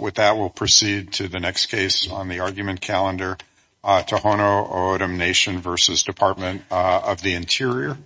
With that, we'll proceed to the next case on the argument calendar, Tohono O'odham Nation v. Department of the Interior.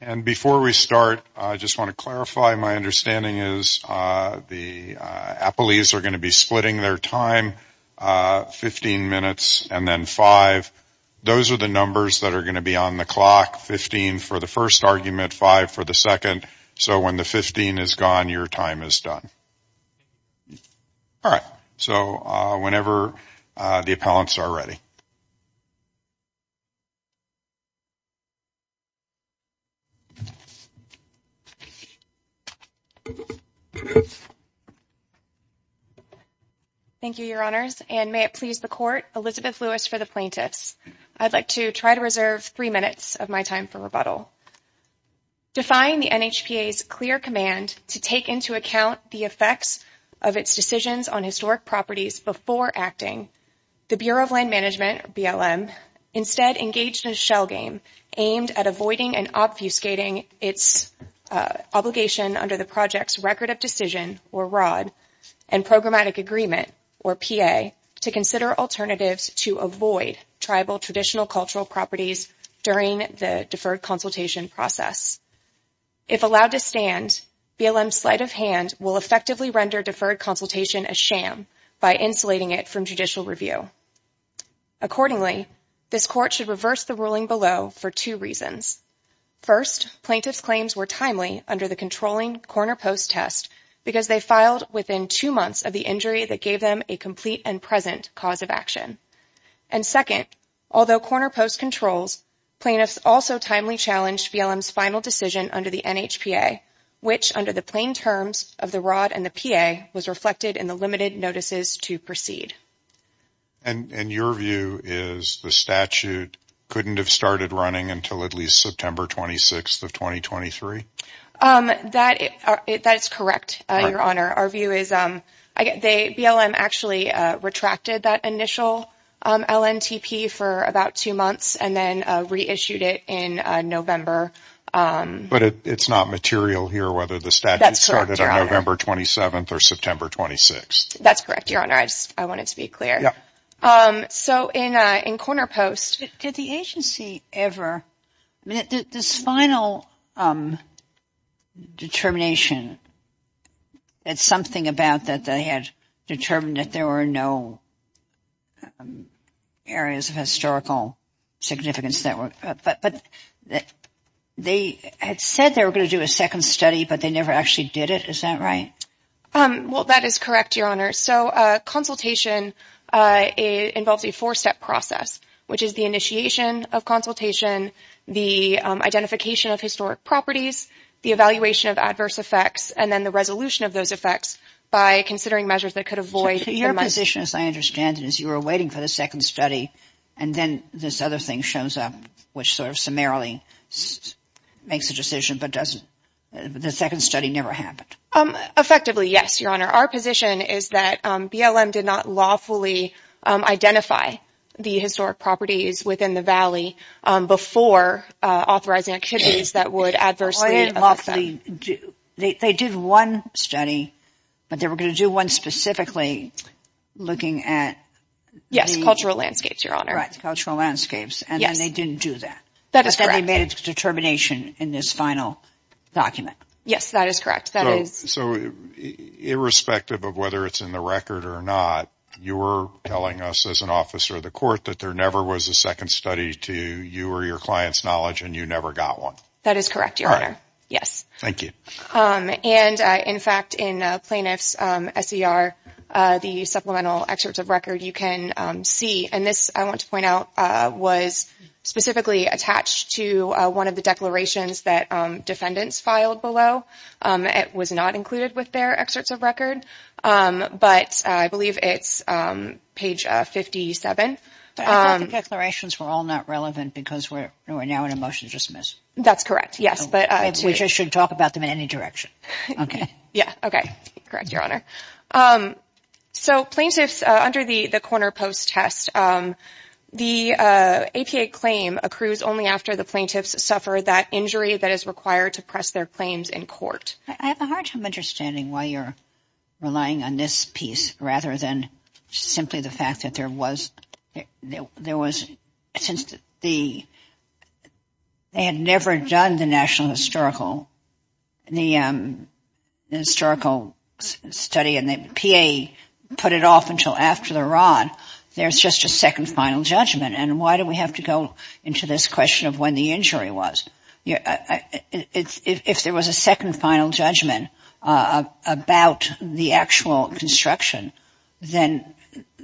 And before we start, I just want to clarify my understanding is the appellees are going to be splitting their time 15 minutes and then five. Those are the numbers that are going to be on the clock, 15 for the first argument, five for the second. So when the 15 is gone, your time is done. All right. So whenever the appellants are ready. Thank you, Your Honors, and may it please the court, Elizabeth Lewis for the plaintiffs. I'd like to try to reserve three minutes of my time for rebuttal. Define the NHPA's clear command to take into account the effects of its decisions on historic properties before acting. The Bureau of Land Management, BLM, instead engaged in a shell game aimed at avoiding and obfuscating its obligation under the project's Record of Decision, or ROD, and Programmatic Agreement, or PA, to consider alternatives to avoid tribal traditional cultural properties during the deferred consultation process. If allowed to stand, BLM's sleight of hand will effectively render deferred consultation a sham by insulating it from judicial review. Accordingly, this court should reverse the ruling below for two reasons. First, plaintiffs' claims were timely under the controlling corner post test because they filed within two months of the injury that gave them a complete and present cause of action. And second, although corner post controls, plaintiffs also timely challenged BLM's final decision under the NHPA, which under the plain terms of the ROD and the PA was reflected in the limited notices to proceed. And your view is the statute couldn't have started running until at least September 26th of 2023? That is correct, Your Honor. Our view is BLM actually retracted that initial LNTP for about two months and then reissued it in November. But it's not material here whether the statute started on November 27th or September 26th. That's correct, Your Honor. I want it to be clear. So in corner post, did the agency ever, this final determination, it's something about that they had determined that there were no areas of historical significance. But they had said they were going to do a second study, but they never actually did it. Is that right? Well, that is correct, Your Honor. So consultation involves a four-step process, which is the initiation of consultation, the identification of historic properties, the evaluation of adverse effects, and then the resolution of those effects by considering measures that could avoid the month. Your position, as I understand it, is you were waiting for the second study, and then this other thing shows up, which sort of summarily makes a decision, but doesn't. The second study never happened. Effectively, yes, Your Honor. Our position is that BLM did not lawfully identify the historic properties within the valley before authorizing activities that would adversely affect them. They did one study, but they were going to do one specifically looking at the… Yes, cultural landscapes, Your Honor. Right, cultural landscapes, and they didn't do that. That is correct. They made a determination in this final document. Yes, that is correct. So irrespective of whether it's in the record or not, you were telling us as an officer of the court that there never was a second study to you or your client's knowledge, and you never got one. That is correct, Your Honor. All right. Yes. Thank you. And, in fact, in plaintiff's SER, the supplemental excerpts of record, you can see, and this, I want to point out, was specifically attached to one of the declarations that defendants filed below. It was not included with their excerpts of record, but I believe it's page 57. I thought the declarations were all not relevant because we're now in a motion to dismiss. That's correct, yes. Which I should talk about them in any direction. Yeah, okay. Correct, Your Honor. So plaintiffs, under the corner post test, the APA claim accrues only after the plaintiffs suffer that injury that is required to press their claims in court. I have a hard time understanding why you're relying on this piece rather than simply the fact that there was, since the, they had never done the national historical, the historical study, and the PA put it off until after the rod. There's just a second final judgment. And why do we have to go into this question of when the injury was? If there was a second final judgment about the actual construction, then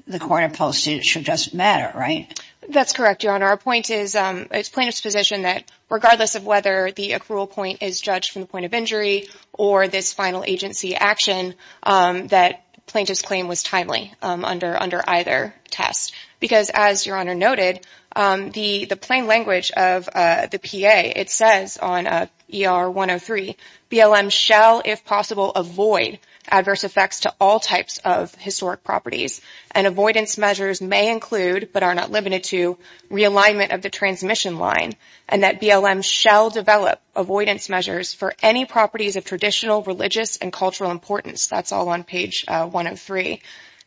the corner post should just matter, right? That's correct, Your Honor. Our point is, it's plaintiff's position that regardless of whether the accrual point is judged from the point of injury or this final agency action, that plaintiff's claim was timely under either test. Because as Your Honor noted, the plain language of the PA, it says on ER 103, BLM shall, if possible, avoid adverse effects to all types of historic properties. And avoidance measures may include, but are not limited to, realignment of the transmission line. And that BLM shall develop avoidance measures for any properties of traditional, religious, and cultural importance. That's all on page 103.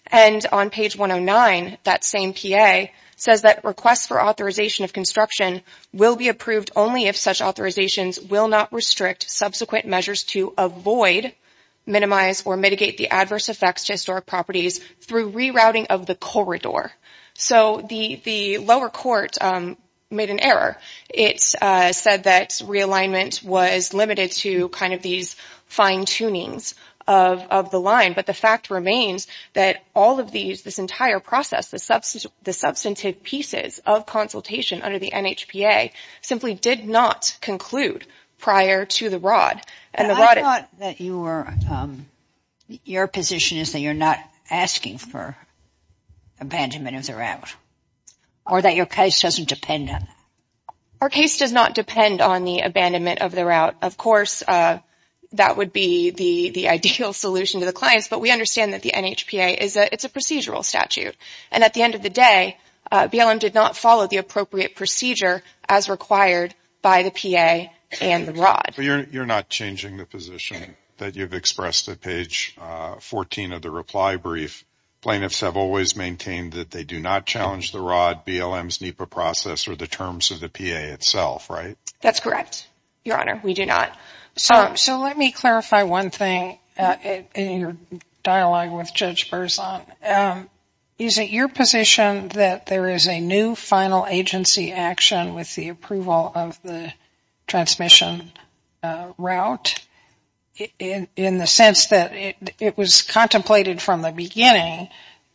And on page 109, that same PA says that requests for authorization of construction will be approved only if such authorizations will not restrict subsequent measures to avoid, minimize, or mitigate the adverse effects to historic properties through rerouting of the corridor. So the lower court made an error. It said that realignment was limited to kind of these fine tunings of the line. But the fact remains that all of these, this entire process, the substantive pieces of consultation under the NHPA, simply did not conclude prior to the rod. And the rod is. I thought that you were, your position is that you're not asking for abandonment of the route. Or that your case doesn't depend on that. Our case does not depend on the abandonment of the route. Of course, that would be the ideal solution to the clients. But we understand that the NHPA, it's a procedural statute. And at the end of the day, BLM did not follow the appropriate procedure as required by the PA and the rod. But you're not changing the position that you've expressed at page 14 of the reply brief. Plaintiffs have always maintained that they do not challenge the rod, BLM's NEPA process, or the terms of the PA itself, right? That's correct, Your Honor. We do not. So let me clarify one thing in your dialogue with Judge Berzon. Is it your position that there is a new final agency action with the approval of the transmission route? In the sense that it was contemplated from the beginning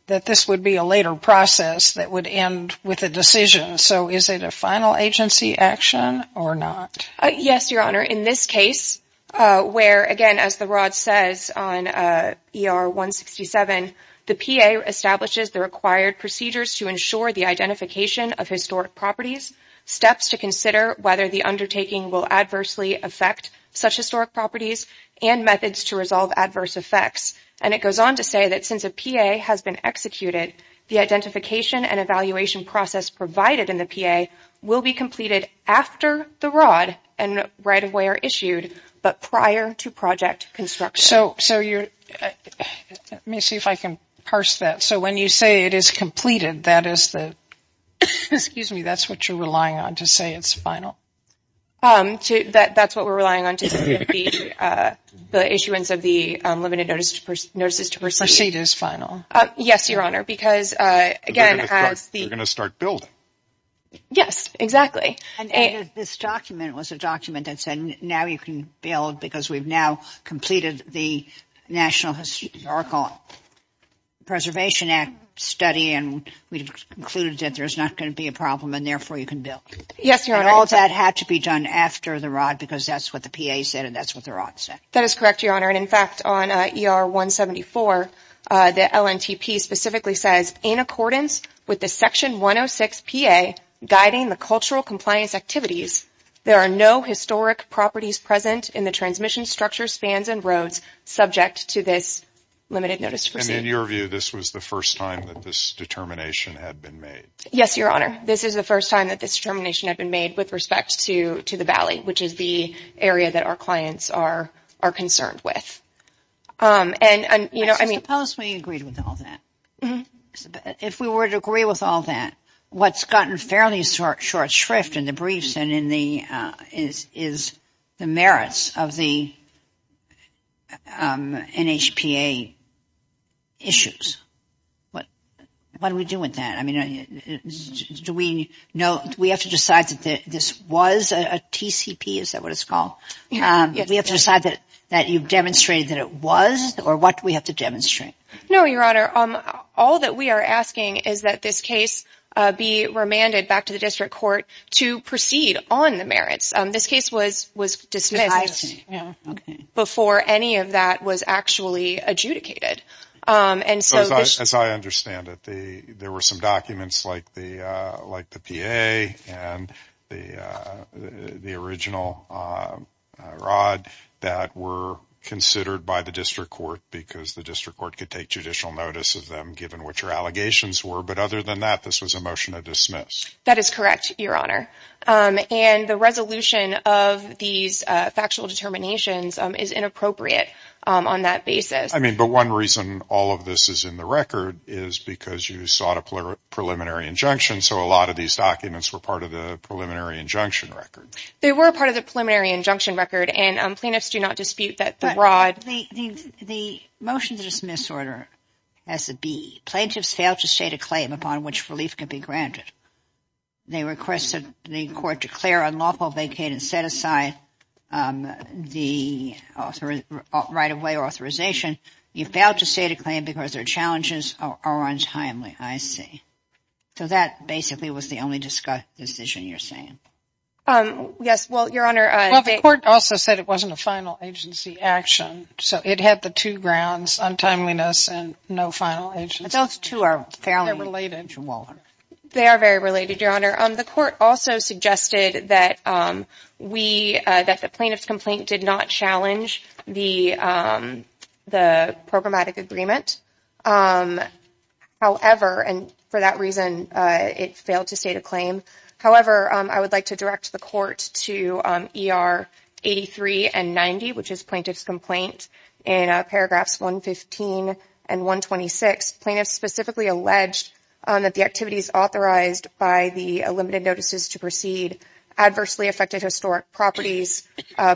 that this would be a later process that would end with a decision. So is it a final agency action or not? Yes, Your Honor. In this case, where, again, as the rod says on ER 167, the PA establishes the required procedures to ensure the identification of historic properties, steps to consider whether the undertaking will adversely affect such historic properties, and methods to resolve adverse effects. And it goes on to say that since a PA has been executed, the identification and evaluation process provided in the PA will be completed after the rod and right-of-way are issued, but prior to project construction. So you're, let me see if I can parse that. So when you say it is completed, that is the, excuse me, that's what you're relying on to say it's final? That's what we're relying on to say the issuance of the limited notices to proceed. Proceed is final. Yes, Your Honor, because, again, as the. You're going to start building. Yes, exactly. And this document was a document that said now you can build because we've now completed the National Historical Preservation Act study and we've concluded that there's not going to be a problem and therefore you can build. Yes, Your Honor. And all of that had to be done after the rod because that's what the PA said and that's what the rod said. That is correct, Your Honor. And, in fact, on ER 174, the LNTP specifically says, in accordance with the Section 106 PA guiding the cultural compliance activities, there are no historic properties present in the transmission structure, spans, and roads subject to this limited notice to proceed. And in your view, this was the first time that this determination had been made? Yes, Your Honor. This is the first time that this determination had been made with respect to the valley, which is the area that our clients are concerned with. I suppose we agreed with all that. If we were to agree with all that, what's gotten fairly short shrift in the briefs and in the merits of the NHPA issues, what do we do with that? Do we have to decide that this was a TCP, is that what it's called? Do we have to decide that you've demonstrated that it was, or what do we have to demonstrate? No, Your Honor. All that we are asking is that this case be remanded back to the district court to proceed on the merits. This case was dismissed before any of that was actually adjudicated. As I understand it, there were some documents like the PA and the original rod that were considered by the district court because the district court could take judicial notice of them given what your allegations were. But other than that, this was a motion to dismiss. That is correct, Your Honor. And the resolution of these factual determinations is inappropriate on that basis. I mean, but one reason all of this is in the record is because you sought a preliminary injunction, so a lot of these documents were part of the preliminary injunction record. They were part of the preliminary injunction record, and plaintiffs do not dispute that the rod. The motion to dismiss order has to be plaintiffs failed to state a claim upon which relief can be granted. They requested the court declare unlawful, vacate, and set aside the right-of-way authorization. You failed to state a claim because their challenges are untimely, I see. So that basically was the only decision you're saying. Yes, well, Your Honor. Well, the court also said it wasn't a final agency action. So it had the two grounds, untimeliness and no final agency. But those two are fairly interwoven. They are very related, Your Honor. The court also suggested that the plaintiff's complaint did not challenge the programmatic agreement. However, and for that reason, it failed to state a claim. However, I would like to direct the court to ER 83 and 90, which is plaintiff's complaint. In paragraphs 115 and 126, plaintiffs specifically alleged that the activities authorized by the limited notices to proceed adversely affected historic properties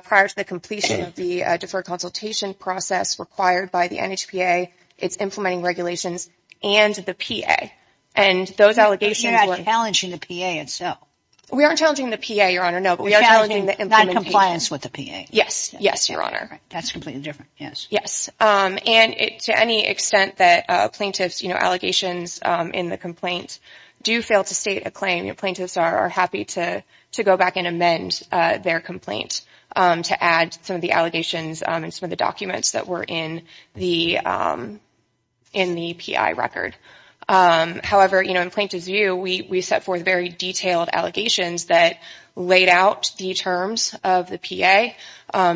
prior to the completion of the deferred consultation process required by the NHPA, its implementing regulations, and the PA. And those allegations were – But you're not challenging the PA itself. We aren't challenging the PA, Your Honor, no, but we are challenging the – Not compliance with the PA. Yes, yes, Your Honor. That's completely different, yes. Yes. And to any extent that plaintiffs' allegations in the complaint do fail to state a claim, plaintiffs are happy to go back and amend their complaint to add some of the allegations and some of the documents that were in the PI record. However, in plaintiff's view, we set forth very detailed allegations that laid out the terms of the PA.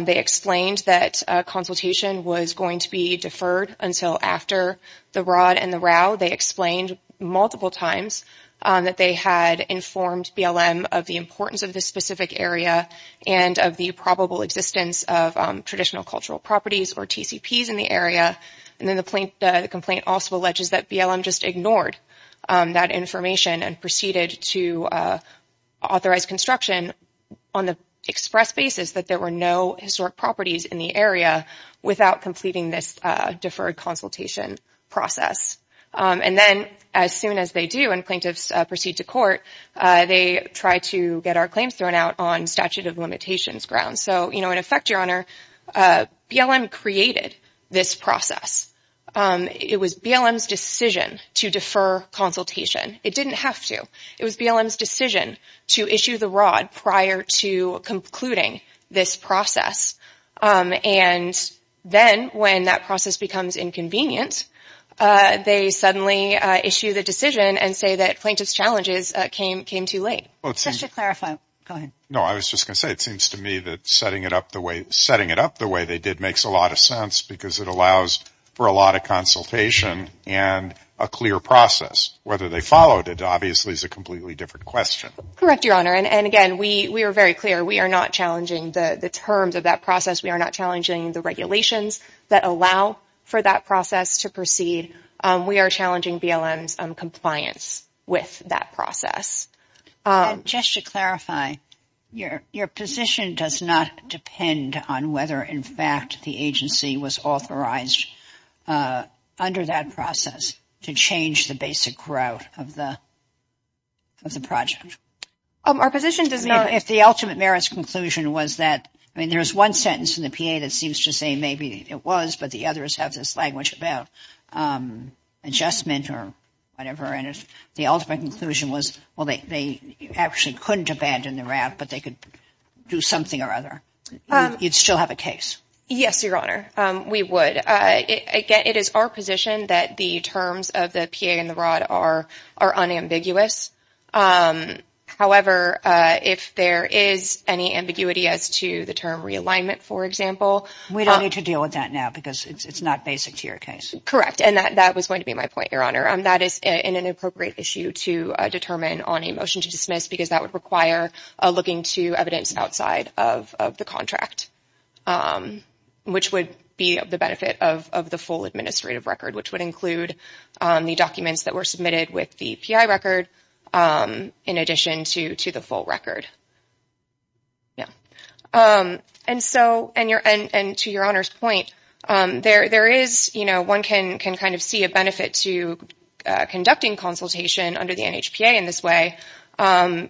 They explained that consultation was going to be deferred until after the Rod and the Rau. They explained multiple times that they had informed BLM of the importance of this specific area and of the probable existence of traditional cultural properties or TCPs in the area. And then the complaint also alleges that BLM just ignored that information and proceeded to authorize construction on the express basis that there were no historic properties in the area without completing this deferred consultation process. And then as soon as they do and plaintiffs proceed to court, they try to get our claims thrown out on statute of limitations grounds. So, you know, in effect, Your Honor, BLM created this process. It was BLM's decision to defer consultation. It didn't have to. It was BLM's decision to issue the Rod prior to concluding this process. And then when that process becomes inconvenient, they suddenly issue the decision and say that plaintiff's challenges came too late. Just to clarify, go ahead. No, I was just going to say it seems to me that setting it up the way they did makes a lot of sense because it allows for a lot of consultation and a clear process. Whether they followed it obviously is a completely different question. Correct, Your Honor. And again, we are very clear. We are not challenging the terms of that process. We are not challenging the regulations that allow for that process to proceed. We are challenging BLM's compliance with that process. Just to clarify, your position does not depend on whether, in fact, the agency was authorized under that process to change the basic route of the project? Our position does not. If the ultimate merits conclusion was that, I mean, there is one sentence in the PA that seems to say maybe it was, but the others have this language about adjustment or whatever. And if the ultimate conclusion was, well, they actually couldn't abandon the route, but they could do something or other, you'd still have a case? Yes, Your Honor. We would. Again, it is our position that the terms of the PA and the ROD are unambiguous. However, if there is any ambiguity as to the term realignment, for example. We don't need to deal with that now because it's not basic to your case. Correct. And that was going to be my point, Your Honor. That is an inappropriate issue to determine on a motion to dismiss because that would require looking to evidence outside of the contract, which would be of the benefit of the full administrative record, which would include the documents that were submitted with the PI record in addition to the full record. Yeah. And to Your Honor's point, there is, you know, one can kind of see a benefit to conducting consultation under the NHPA in this way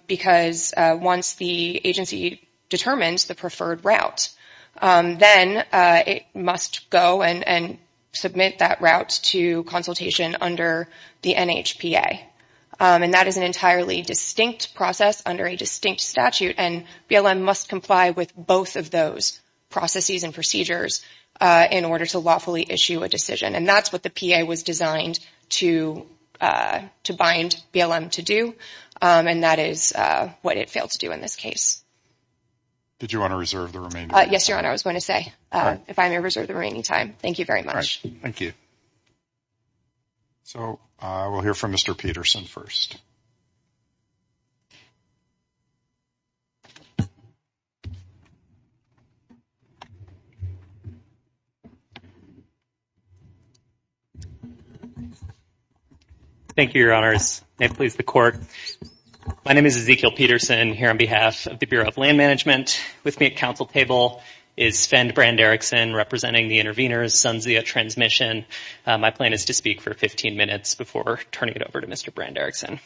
because once the agency determines the preferred route, then it must go and submit that route to consultation under the NHPA. And that is an entirely distinct process under a distinct statute, and BLM must comply with both of those processes and procedures in order to lawfully issue a decision. And that's what the PA was designed to bind BLM to do, and that is what it failed to do in this case. Did you want to reserve the remaining time? Yes, Your Honor. I was going to say if I may reserve the remaining time. Thank you very much. Thank you. So we'll hear from Mr. Peterson first. Thank you, Your Honors. May it please the Court. My name is Ezekiel Peterson here on behalf of the Bureau of Land Management. With me at counsel table is Sven Brand-Erikson, representing the intervenors, Sunzia Transmission. My plan is to speak for 15 minutes before turning it over to Mr. Brand-Erikson.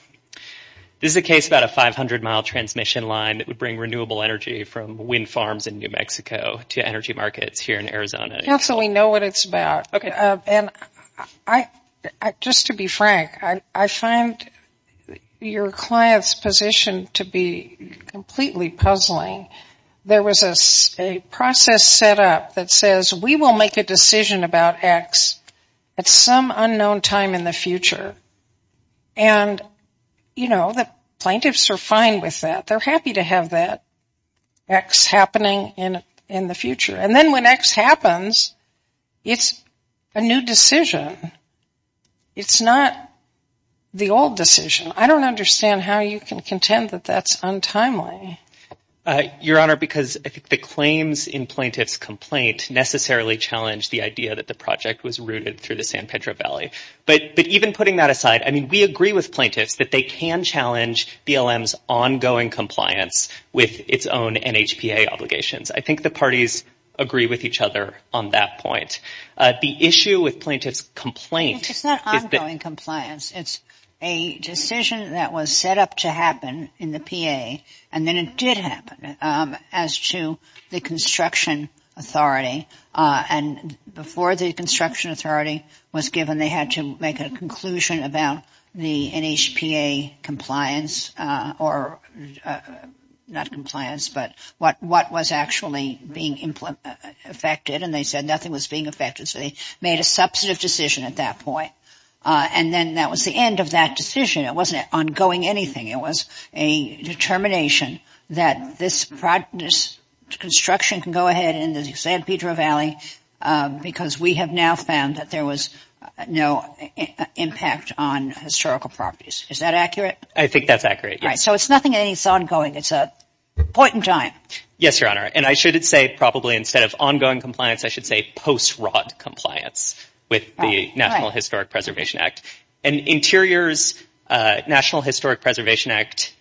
This is a case about a 500-mile transmission line that would bring renewable energy from wind farms in New Mexico to energy markets here in Arizona. Counsel, we know what it's about. Okay. And just to be frank, I find your client's position to be completely puzzling. There was a process set up that says we will make a decision about X at some unknown time in the future. And, you know, the plaintiffs are fine with that. They're happy to have that X happening in the future. And then when X happens, it's a new decision. It's not the old decision. I don't understand how you can contend that that's untimely. Your Honor, because the claims in plaintiff's complaint necessarily challenge the idea that the project was rooted through the San Pedro Valley. But even putting that aside, I mean, we agree with plaintiffs that they can challenge BLM's ongoing compliance with its own NHPA obligations. I think the parties agree with each other on that point. The issue with plaintiff's complaint is that. It's not ongoing compliance. It's a decision that was set up to happen in the PA, and then it did happen as to the construction authority. And before the construction authority was given, they had to make a conclusion about the NHPA compliance or not compliance, but what was actually being affected. And they said nothing was being affected. So they made a substantive decision at that point. And then that was the end of that decision. It wasn't ongoing anything. It was a determination that this construction can go ahead in the San Pedro Valley because we have now found that there was no impact on historical properties. Is that accurate? I think that's accurate, yes. All right. So it's nothing that needs ongoing. It's a point in time. Yes, Your Honor. And I should say probably instead of ongoing compliance, I should say post-rod compliance with the National Historic Preservation Act. And Interior's National Historic Preservation Act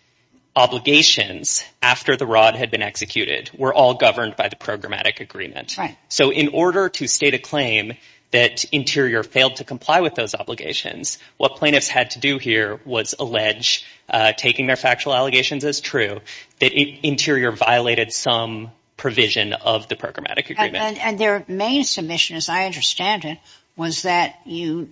obligations after the rod had been executed were all governed by the programmatic agreement. Right. So in order to state a claim that Interior failed to comply with those obligations, what plaintiffs had to do here was allege taking their factual allegations as true, that Interior violated some provision of the programmatic agreement. And their main submission, as I understand it, was that you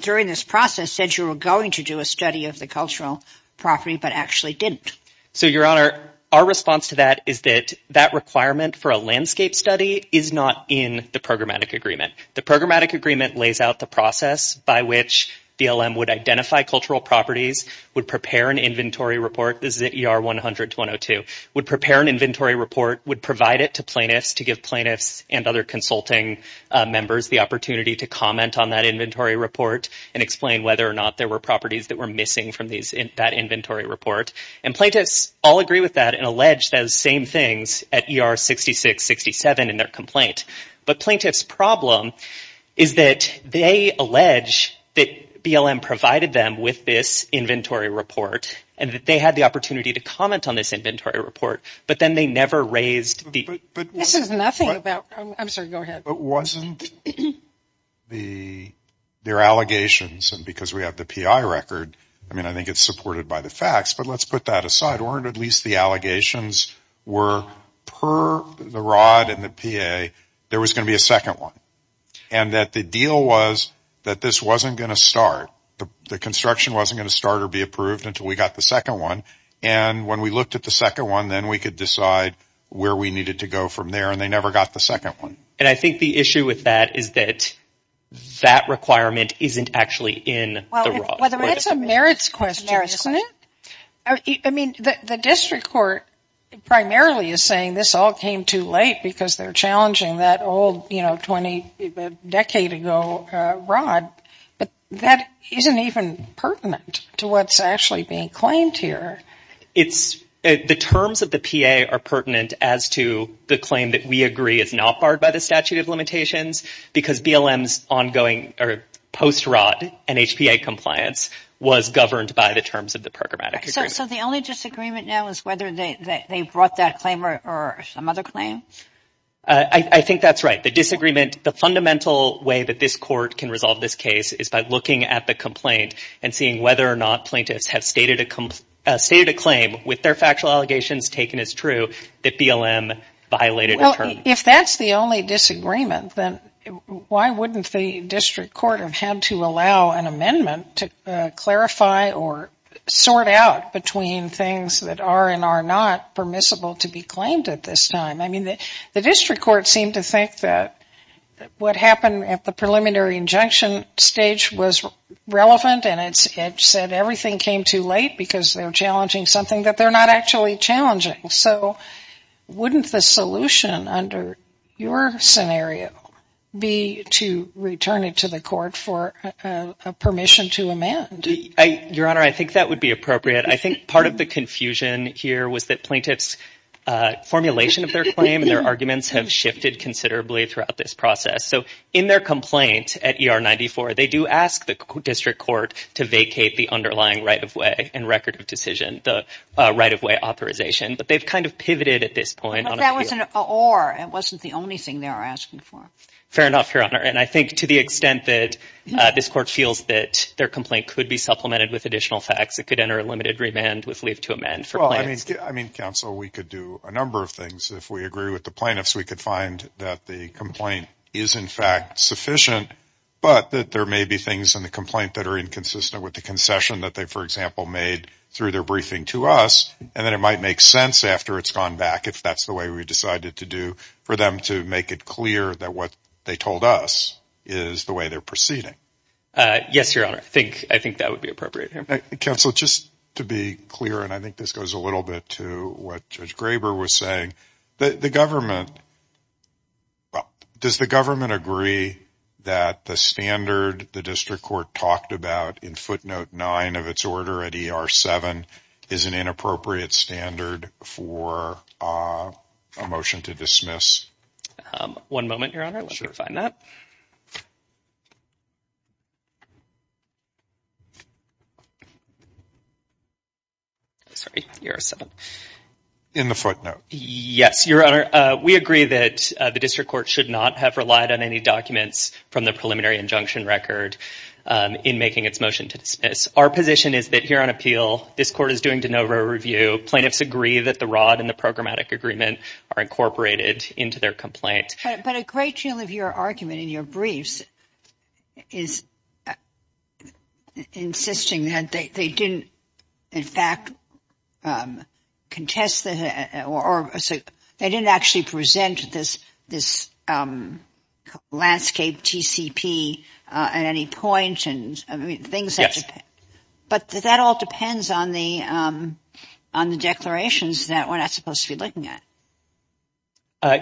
during this process said you were going to do a study of the cultural property but actually didn't. So, Your Honor, our response to that is that that requirement for a landscape study is not in the programmatic agreement. The programmatic agreement lays out the process by which BLM would identify cultural properties, would prepare an inventory report, the ZER 100-202, would prepare an inventory report, would provide it to plaintiffs to give plaintiffs and other consulting members the opportunity to comment on that inventory report and explain whether or not there were properties that were missing from that inventory report. And plaintiffs all agree with that and allege those same things at ER 66-67 in their complaint. But plaintiffs' problem is that they allege that BLM provided them with this inventory report and that they had the opportunity to comment on this inventory report, but then they never raised the- This is nothing about- I'm sorry, go ahead. But wasn't their allegations, and because we have the PI record, I mean, I think it's supported by the facts, but let's put that aside. Weren't at least the allegations were per the ROD and the PA there was going to be a second one and that the deal was that this wasn't going to start, the construction wasn't going to start or be approved until we got the second one. And when we looked at the second one, then we could decide where we needed to go from there and they never got the second one. And I think the issue with that is that that requirement isn't actually in the ROD. Well, that's a merits question, isn't it? I mean, the district court primarily is saying this all came too late because they're challenging that old, you know, 20-decade-ago ROD. But that isn't even pertinent to what's actually being claimed here. The terms of the PA are pertinent as to the claim that we agree is not barred by the statute of limitations because BLM's ongoing post-ROD and HPA compliance was governed by the terms of the programmatic agreement. So the only disagreement now is whether they brought that claim or some other claim? I think that's right. The disagreement, the fundamental way that this court can resolve this case is by looking at the complaint and seeing whether or not plaintiffs have stated a claim with their factual allegations taken as true that BLM violated a term. Well, if that's the only disagreement, then why wouldn't the district court have had to allow an amendment to clarify or sort out between things that are and are not permissible to be claimed at this time? I mean, the district court seemed to think that what happened at the preliminary injunction stage was relevant and it said everything came too late because they're challenging something that they're not actually challenging. So wouldn't the solution under your scenario be to return it to the court for a permission to amend? Your Honor, I think that would be appropriate. I think part of the confusion here was that plaintiffs' formulation of their claim and their arguments have shifted considerably throughout this process. So in their complaint at ER 94, they do ask the district court to vacate the underlying right-of-way and record of decision, the right-of-way authorization. But they've kind of pivoted at this point. But that was an or. It wasn't the only thing they were asking for. Fair enough, Your Honor. And I think to the extent that this court feels that their complaint could be supplemented with additional facts, it could enter a limited remand with leave to amend for plaintiffs. Well, I mean, Counsel, we could do a number of things. If we agree with the plaintiffs, we could find that the complaint is, in fact, sufficient, but that there may be things in the complaint that are inconsistent with the concession that they, for example, made through their briefing to us. And then it might make sense after it's gone back, if that's the way we decided to do, for them to make it clear that what they told us is the way they're proceeding. Yes, Your Honor. I think that would be appropriate. Counsel, just to be clear, and I think this goes a little bit to what Judge Graber was saying, the government, does the government agree that the standard the district court talked about in footnote nine of its order at E.R. 7 is an inappropriate standard for a motion to dismiss? One moment, Your Honor. Let me refine that. Sorry, E.R. 7. In the footnote. Yes, Your Honor. We agree that the district court should not have relied on any documents from the preliminary injunction record in making its motion to dismiss. Our position is that here on appeal, this court is doing de novo review. Plaintiffs agree that the rod and the programmatic agreement are incorporated into their complaint. But a great deal of your argument in your briefs is insisting that they didn't, in fact, contest, or they didn't actually present this landscape TCP at any point. Yes. But that all depends on the declarations that we're not supposed to be looking at.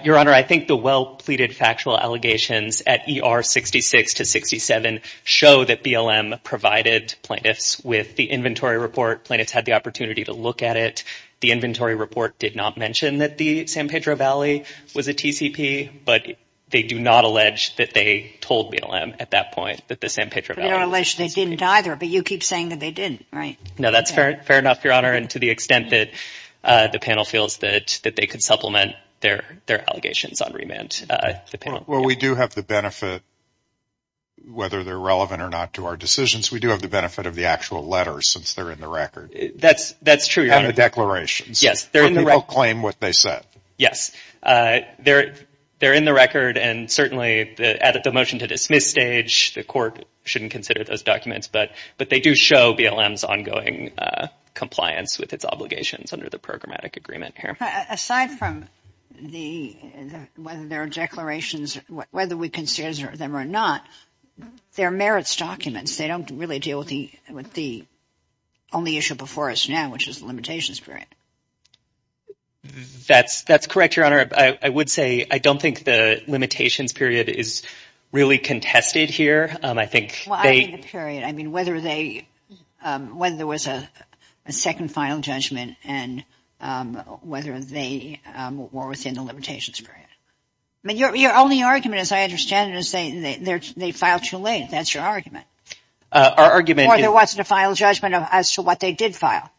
Your Honor, I think the well-pleaded factual allegations at E.R. 66 to 67 show that BLM provided plaintiffs with the inventory report. Plaintiffs had the opportunity to look at it. The inventory report did not mention that the San Pedro Valley was a TCP, but they do not allege that they told BLM at that point that the San Pedro Valley was a TCP. They don't allege they didn't either, but you keep saying that they didn't, right? No, that's fair enough, Your Honor, and to the extent that the panel feels that they could supplement their allegations on remand. Well, we do have the benefit, whether they're relevant or not to our decisions, we do have the benefit of the actual letters since they're in the record. That's true, Your Honor. And the declarations. Yes, they're in the record. But they don't claim what they said. Yes, they're in the record, and certainly the motion to dismiss stage, the court shouldn't consider those documents, but they do show BLM's ongoing compliance with its obligations under the programmatic agreement here. Aside from whether there are declarations, whether we consider them or not, they're merits documents. They don't really deal with the only issue before us now, which is the limitations period. That's correct, Your Honor. I would say I don't think the limitations period is really contested here. Well, I mean the period. I mean whether there was a second final judgment and whether they were within the limitations period. Your only argument, as I understand it, is they filed too late. That's your argument. Our argument is. Or there wasn't a final judgment as to what they did file.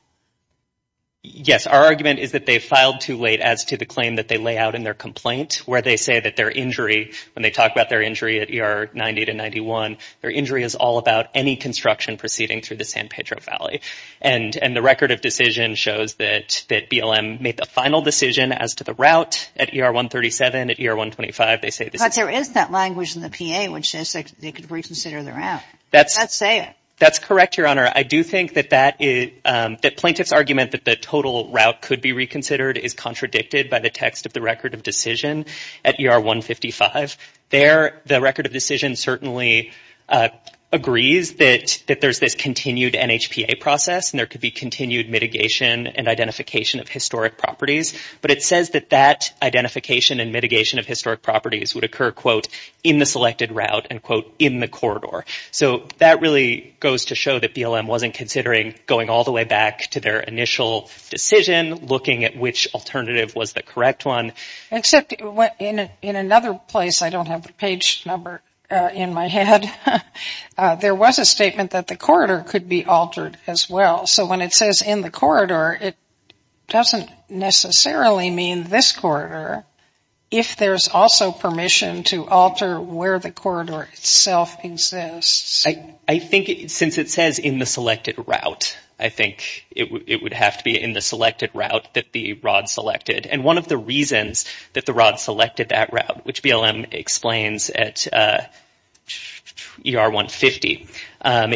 Yes, our argument is that they filed too late as to the claim that they lay out in their complaint, where they say that their injury, when they talk about their injury at ER 90 to 91, their injury is all about any construction proceeding through the San Pedro Valley. And the record of decision shows that BLM made the final decision as to the route at ER 137, at ER 125. But there is that language in the PA which says they could reconsider the route. That's correct, Your Honor. I do think that plaintiff's argument that the total route could be reconsidered is contradicted by the text of the record of decision at ER 155. There, the record of decision certainly agrees that there's this continued NHPA process and there could be continued mitigation and identification of historic properties. But it says that that identification and mitigation of historic properties would occur, quote, in the selected route and, quote, in the corridor. So that really goes to show that BLM wasn't considering going all the way back to their initial decision, looking at which alternative was the correct one. Except in another place, I don't have the page number in my head, there was a statement that the corridor could be altered as well. So when it says in the corridor, it doesn't necessarily mean this corridor, if there's also permission to alter where the corridor itself exists. I think since it says in the selected route, I think it would have to be in the selected route that the ROD selected. And one of the reasons that the ROD selected that route, which BLM explains at ER 150,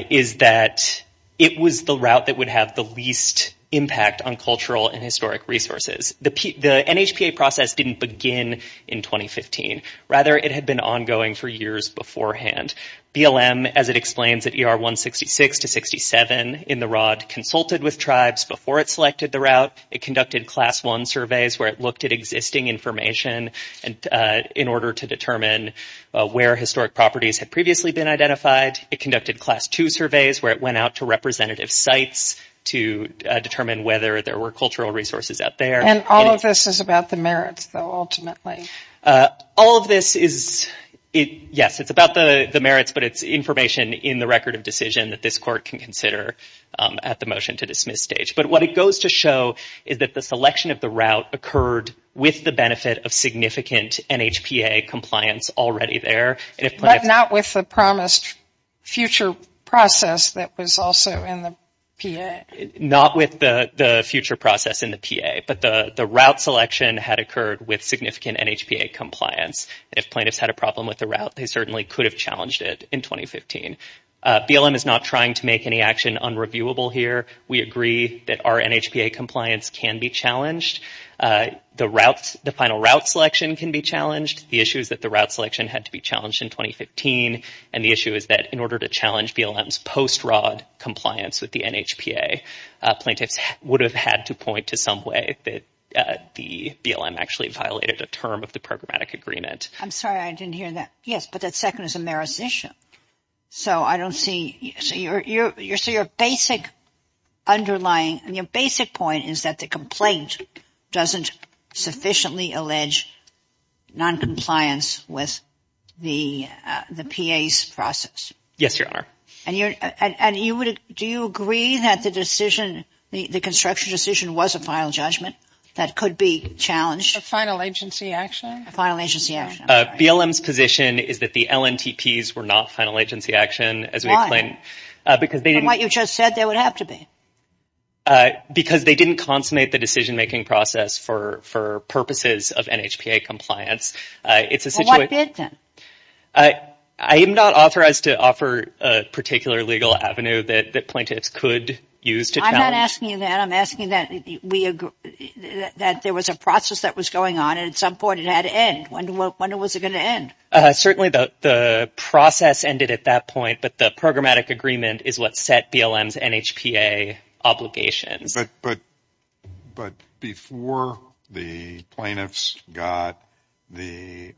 is that it was the route that would have the least impact on cultural and historic resources. The NHPA process didn't begin in 2015. Rather, it had been ongoing for years beforehand. BLM, as it explains at ER 166 to 67 in the ROD, consulted with tribes before it selected the route. It conducted Class 1 surveys where it looked at existing information in order to determine where historic properties had previously been identified. It conducted Class 2 surveys where it went out to representative sites to determine whether there were cultural resources out there. And all of this is about the merits, though, ultimately. All of this is, yes, it's about the merits, but it's information in the record of decision that this court can consider at the motion to dismiss stage. But what it goes to show is that the selection of the route occurred with the benefit of significant NHPA compliance already there. But not with the promised future process that was also in the PA. Not with the future process in the PA. But the route selection had occurred with significant NHPA compliance. If plaintiffs had a problem with the route, they certainly could have challenged it in 2015. BLM is not trying to make any action unreviewable here. We agree that our NHPA compliance can be challenged. The final route selection can be challenged. The issue is that the route selection had to be challenged in 2015. And the issue is that in order to challenge BLM's post-rod compliance with the NHPA, plaintiffs would have had to point to some way that the BLM actually violated a term of the programmatic agreement. I'm sorry, I didn't hear that. Yes, but that second is a merits issue. So I don't see, so your basic underlying, your basic point is that the complaint doesn't sufficiently allege noncompliance with the PA's process. Yes, Your Honor. And you would, do you agree that the decision, the construction decision was a final judgment that could be challenged? A final agency action? A final agency action. BLM's position is that the LNTPs were not final agency action. From what you just said, they would have to be. Because they didn't consummate the decision-making process for purposes of NHPA compliance. Well, what did then? I am not authorized to offer a particular legal avenue that plaintiffs could use to challenge. I'm not asking you that. I'm asking that we agree that there was a process that was going on and at some point it had to end. When was it going to end? Certainly the process ended at that point, but the programmatic agreement is what set BLM's NHPA obligations. But before the plaintiffs got the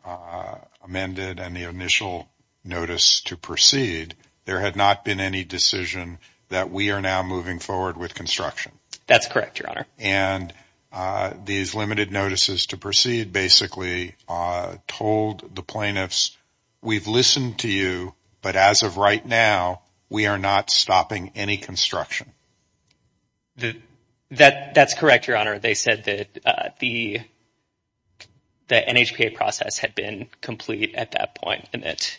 amended and the initial notice to proceed, there had not been any decision that we are now moving forward with construction. That's correct, Your Honor. And these limited notices to proceed basically told the plaintiffs, we've listened to you, but as of right now, we are not stopping any construction. That's correct, Your Honor. They said that the NHPA process had been complete at that point and that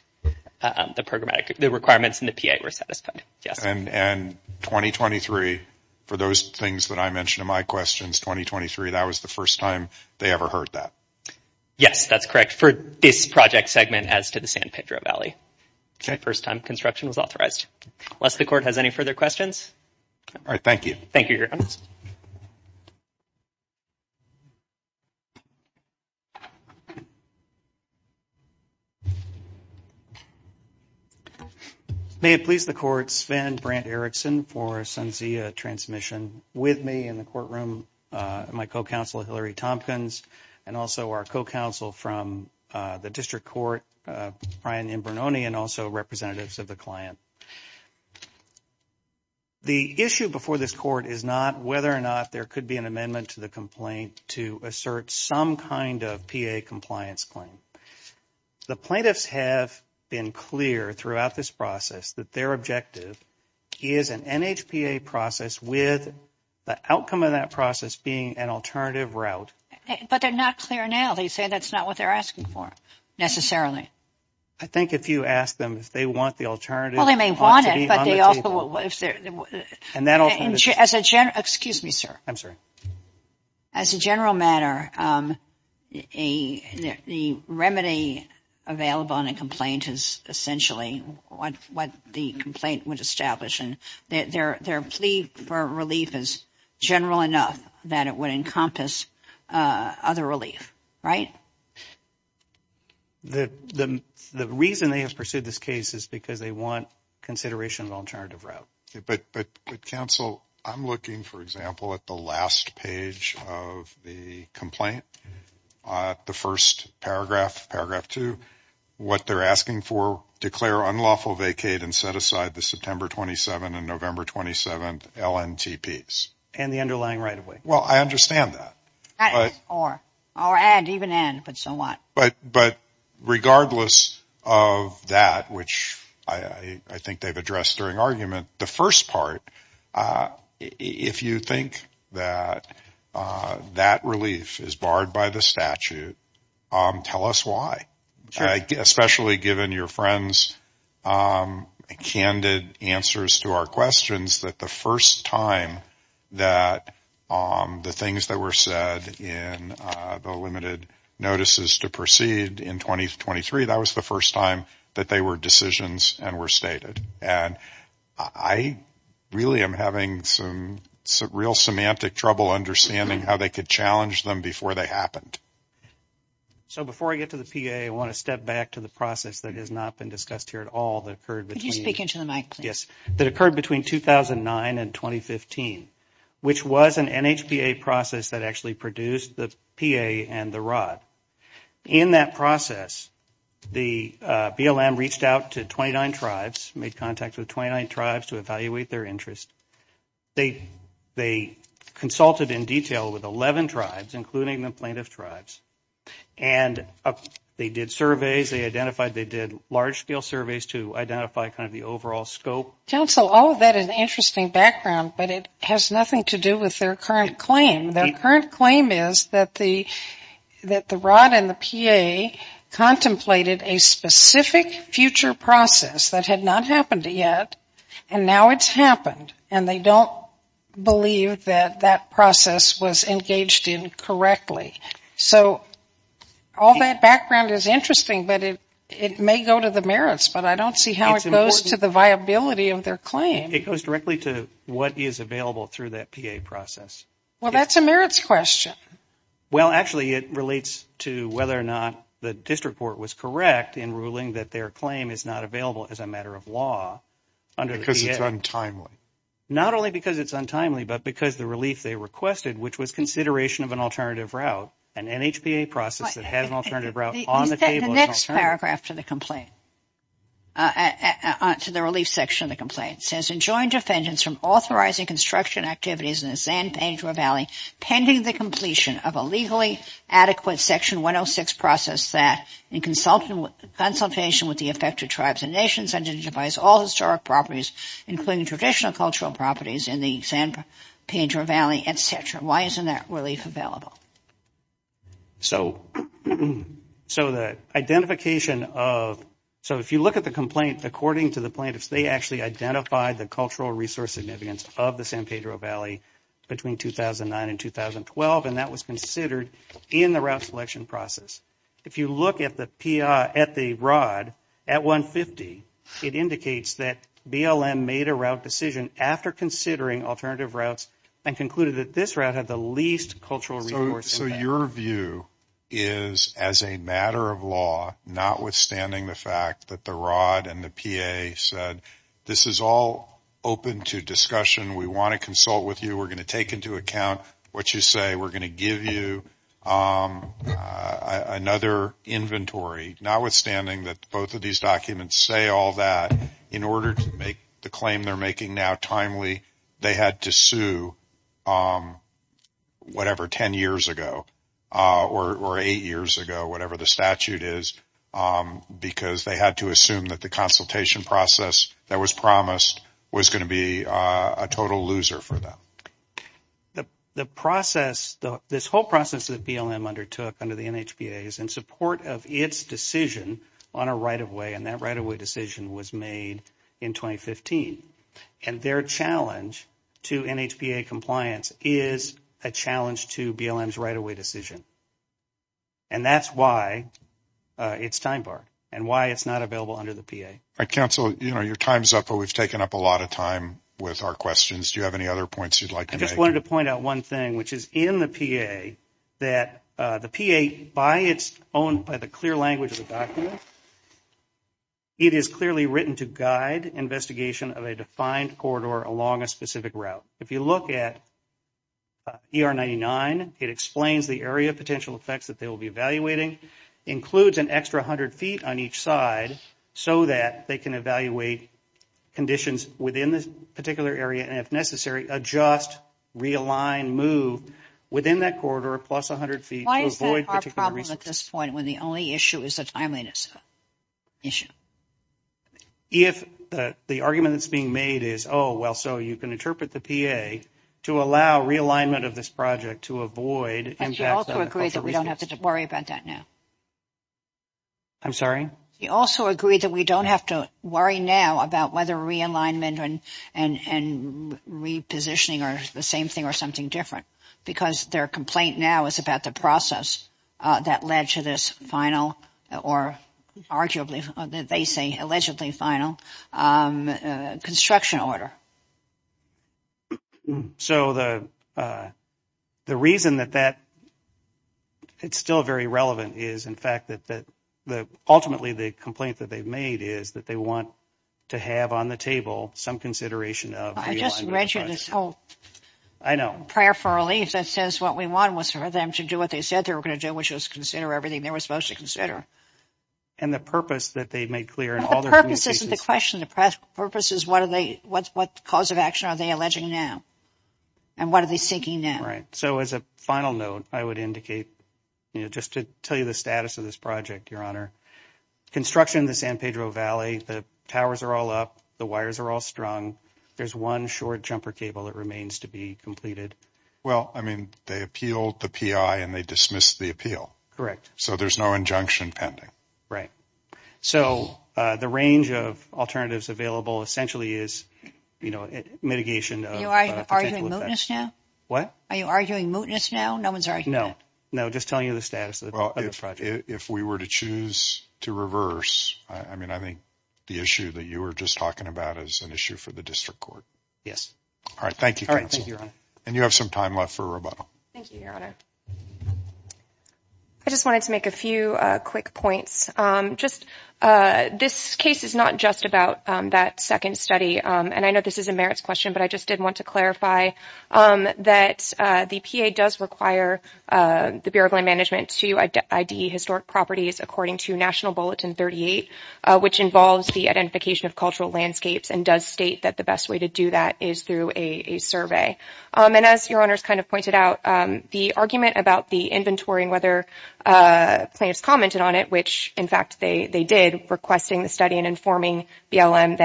the requirements in the PA were satisfied. And 2023, for those things that I mentioned in my questions, 2023, that was the first time they ever heard that. Yes, that's correct. For this project segment as to the San Pedro Valley, the first time construction was authorized. Unless the Court has any further questions. All right, thank you. Thank you, Your Honor. Please. May it please the Court, Sven Brandt Erickson for SUNSIA transmission with me in the courtroom, my co-counsel Hillary Tompkins, and also our co-counsel from the District Court, Brian Imbranoni, and also representatives of the client. The issue before this Court is not whether or not there could be an amendment to the complaint to assert some kind of PA compliance claim. The plaintiffs have been clear throughout this process that their objective is an NHPA process with the outcome of that process being an alternative route. But they're not clear now. They say that's not what they're asking for necessarily. I think if you ask them if they want the alternative. Well, they may want it, but they also, as a general, excuse me, sir. I'm sorry. As a general matter, the remedy available on a complaint is essentially what the complaint would establish. Their plea for relief is general enough that it would encompass other relief, right? The reason they have pursued this case is because they want consideration of alternative route. But, counsel, I'm looking, for example, at the last page of the complaint, the first paragraph, paragraph two. What they're asking for, declare unlawful vacate and set aside the September 27th and November 27th LNTPs. And the underlying right of way. Well, I understand that. Or and even and, but so what? But regardless of that, which I think they've addressed during argument, the first part, if you think that that relief is barred by the statute, tell us why. Especially given your friends candid answers to our questions that the first time that the things that were said in the limited notices to proceed in 2023, that was the first time that they were decisions and were stated. And I really am having some real semantic trouble understanding how they could challenge them before they happened. So before I get to the P.A., I want to step back to the process that has not been discussed here at all that occurred. Could you speak into the mic, please? Yes. That occurred between 2009 and 2015, which was an NHPA process that actually produced the P.A. and the rod. In that process, the BLM reached out to 29 tribes, made contact with 29 tribes to evaluate their interest. They consulted in detail with 11 tribes, including the plaintiff tribes. And they did surveys. They identified they did large-scale surveys to identify kind of the overall scope. Counsel, all of that is interesting background, but it has nothing to do with their current claim. Their current claim is that the rod and the P.A. contemplated a specific future process that had not happened yet, and now it's happened. And they don't believe that that process was engaged in correctly. So all that background is interesting, but it may go to the merits. But I don't see how it goes to the viability of their claim. It goes directly to what is available through that P.A. process. Well, that's a merits question. Well, actually, it relates to whether or not the district court was correct in ruling that their claim is not available as a matter of law under the P.A. Because it's untimely. Not only because it's untimely, but because the relief they requested, which was consideration of an alternative route, an NHPA process that has an alternative route on the table. The next paragraph to the complaint, to the relief section of the complaint, says enjoined defendants from authorizing construction activities in the San Pedro Valley pending the completion of a legally adequate Section 106 process that in consultation with the affected tribes and nations identifies all historic properties, including traditional cultural properties in the San Pedro Valley, etc. Why isn't that relief available? So the identification of – so if you look at the complaint, according to the plaintiffs, they actually identified the cultural resource significance of the San Pedro Valley between 2009 and 2012, and that was considered in the route selection process. If you look at the ROD at 150, it indicates that BLM made a route decision after considering alternative routes and concluded that this route had the least cultural resource. So your view is, as a matter of law, notwithstanding the fact that the ROD and the P.A. said, this is all open to discussion, we want to consult with you, we're going to take into account what you say, we're going to give you another inventory, notwithstanding that both of these documents say all that, in order to make the claim they're making now timely, they had to sue whatever, 10 years ago or eight years ago, whatever the statute is, because they had to assume that the consultation process that was promised was going to be a total loser for them. The process – this whole process that BLM undertook under the NHPA is in support of its decision on a right-of-way, and that right-of-way decision was made in 2015. And their challenge to NHPA compliance is a challenge to BLM's right-of-way decision. And that's why it's time-barred and why it's not available under the P.A. All right, counsel, you know, your time's up, but we've taken up a lot of time with our questions. Do you have any other points you'd like to make? I just wanted to point out one thing, which is in the P.A., that the P.A., by its own, by the clear language of the document, it is clearly written to guide investigation of a defined corridor along a specific route. If you look at ER 99, it explains the area of potential effects that they will be evaluating, includes an extra 100 feet on each side so that they can evaluate conditions within this particular area and, if necessary, adjust, realign, move within that corridor plus 100 feet to avoid particular resources. Why is that our problem at this point when the only issue is the timeliness issue? If the argument that's being made is, oh, well, so you can interpret the P.A. to allow realignment of this project to avoid impacts on cultural resources. We also agree that we don't have to worry about that now. I'm sorry? We also agree that we don't have to worry now about whether realignment and repositioning are the same thing or something different because their complaint now is about the process that led to this final or, arguably, they say allegedly final construction order. So the reason that it's still very relevant is, in fact, that ultimately the complaint that they've made is that they want to have on the table some consideration of realignment of the project. I just read you this whole prayer for relief that says what we want was for them to do what they said they were going to do, which was consider everything they were supposed to consider. And the purpose that they made clear in all their communications… That isn't the question. The purpose is what cause of action are they alleging now and what are they seeking now? Right. So as a final note, I would indicate, just to tell you the status of this project, Your Honor, construction in the San Pedro Valley, the towers are all up, the wires are all strung. There's one short jumper cable that remains to be completed. Well, I mean, they appealed the P.I. and they dismissed the appeal. Correct. So there's no injunction pending. Right. So the range of alternatives available essentially is, you know, mitigation of potential effects. Are you arguing mootness now? What? Are you arguing mootness now? No one's arguing that. No. No, just telling you the status of the project. Well, if we were to choose to reverse, I mean, I think the issue that you were just talking about is an issue for the district court. Yes. All right. Thank you, counsel. All right. Thank you, Your Honor. And you have some time left for rebuttal. Thank you, Your Honor. I just wanted to make a few quick points. This case is not just about that second study, and I know this is a merits question, but I just did want to clarify that the P.A. does require the Bureau of Land Management to ID historic properties according to National Bulletin 38, which involves the identification of cultural landscapes and does state that the best way to do that is through a survey. And as Your Honors kind of pointed out, the argument about the inventory and whether plaintiffs commented on it, which, in fact, they did, requesting the study and informing BLM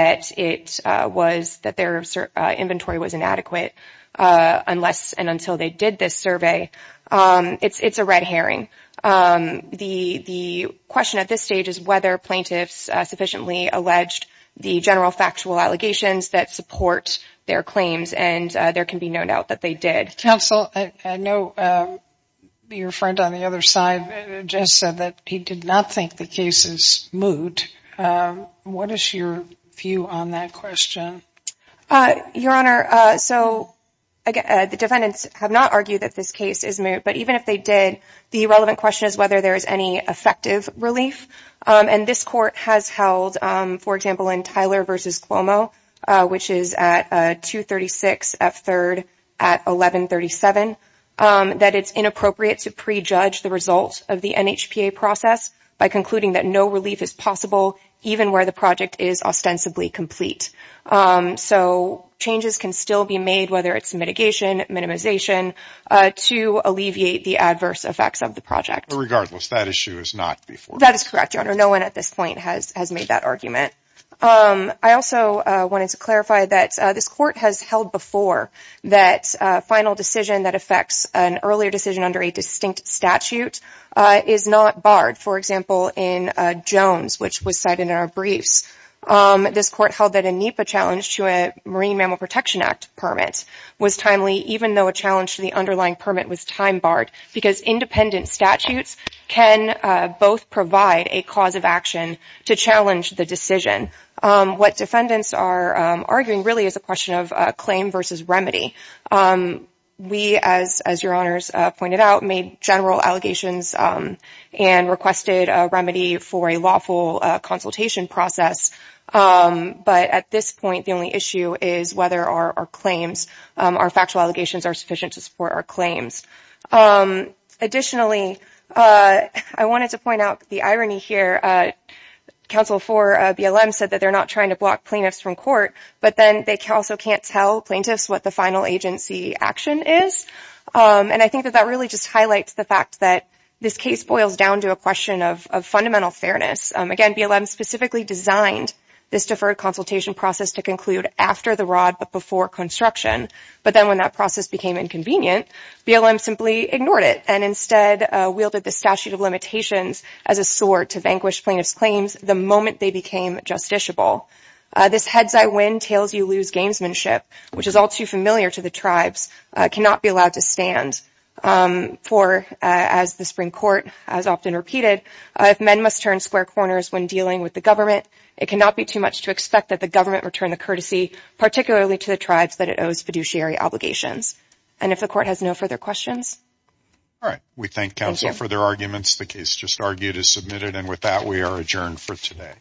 that their inventory was inadequate unless and until they did this survey, it's a red herring. The question at this stage is whether plaintiffs sufficiently alleged the general factual allegations that support their claims, and there can be no doubt that they did. Counsel, I know your friend on the other side just said that he did not think the case is moot. What is your view on that question? Your Honor, so the defendants have not argued that this case is moot, but even if they did, the relevant question is whether there is any effective relief. And this Court has held, for example, in Tyler v. Cuomo, which is at 236 F. 3rd at 1137, that it's inappropriate to prejudge the result of the NHPA process by concluding that no relief is possible, even where the project is ostensibly complete. So changes can still be made, whether it's mitigation, minimization, to alleviate the adverse effects of the project. But regardless, that issue is not before us. That is correct, Your Honor. No one at this point has made that argument. I also wanted to clarify that this Court has held before that a final decision that affects an earlier decision under a distinct statute is not barred. For example, in Jones, which was cited in our briefs, this Court held that a NHPA challenge to a Marine Mammal Protection Act permit was timely, even though a challenge to the underlying permit was time-barred, because independent statutes can both provide a cause of action to challenge the decision. What defendants are arguing really is a question of claim versus remedy. We, as Your Honors pointed out, made general allegations and requested a remedy for a lawful consultation process. But at this point, the only issue is whether our claims, our factual allegations, are sufficient to support our claims. Additionally, I wanted to point out the irony here. Counsel for BLM said that they're not trying to block plaintiffs from court, but then they also can't tell plaintiffs what the final agency action is. And I think that that really just highlights the fact that this case boils down to a question of fundamental fairness. Again, BLM specifically designed this deferred consultation process to conclude after the rod, but before construction. But then when that process became inconvenient, BLM simply ignored it and instead wielded the statute of limitations as a sword to vanquish plaintiffs' claims the moment they became justiciable. This heads-I-win, tails-you-lose gamesmanship, which is all too familiar to the tribes, cannot be allowed to stand. For, as the Supreme Court has often repeated, if men must turn square corners when dealing with the government, it cannot be too much to expect that the government return the courtesy, particularly to the tribes that it owes fiduciary obligations. And if the court has no further questions? All right. We thank counsel for their arguments. The case just argued is submitted. And with that, we are adjourned for today.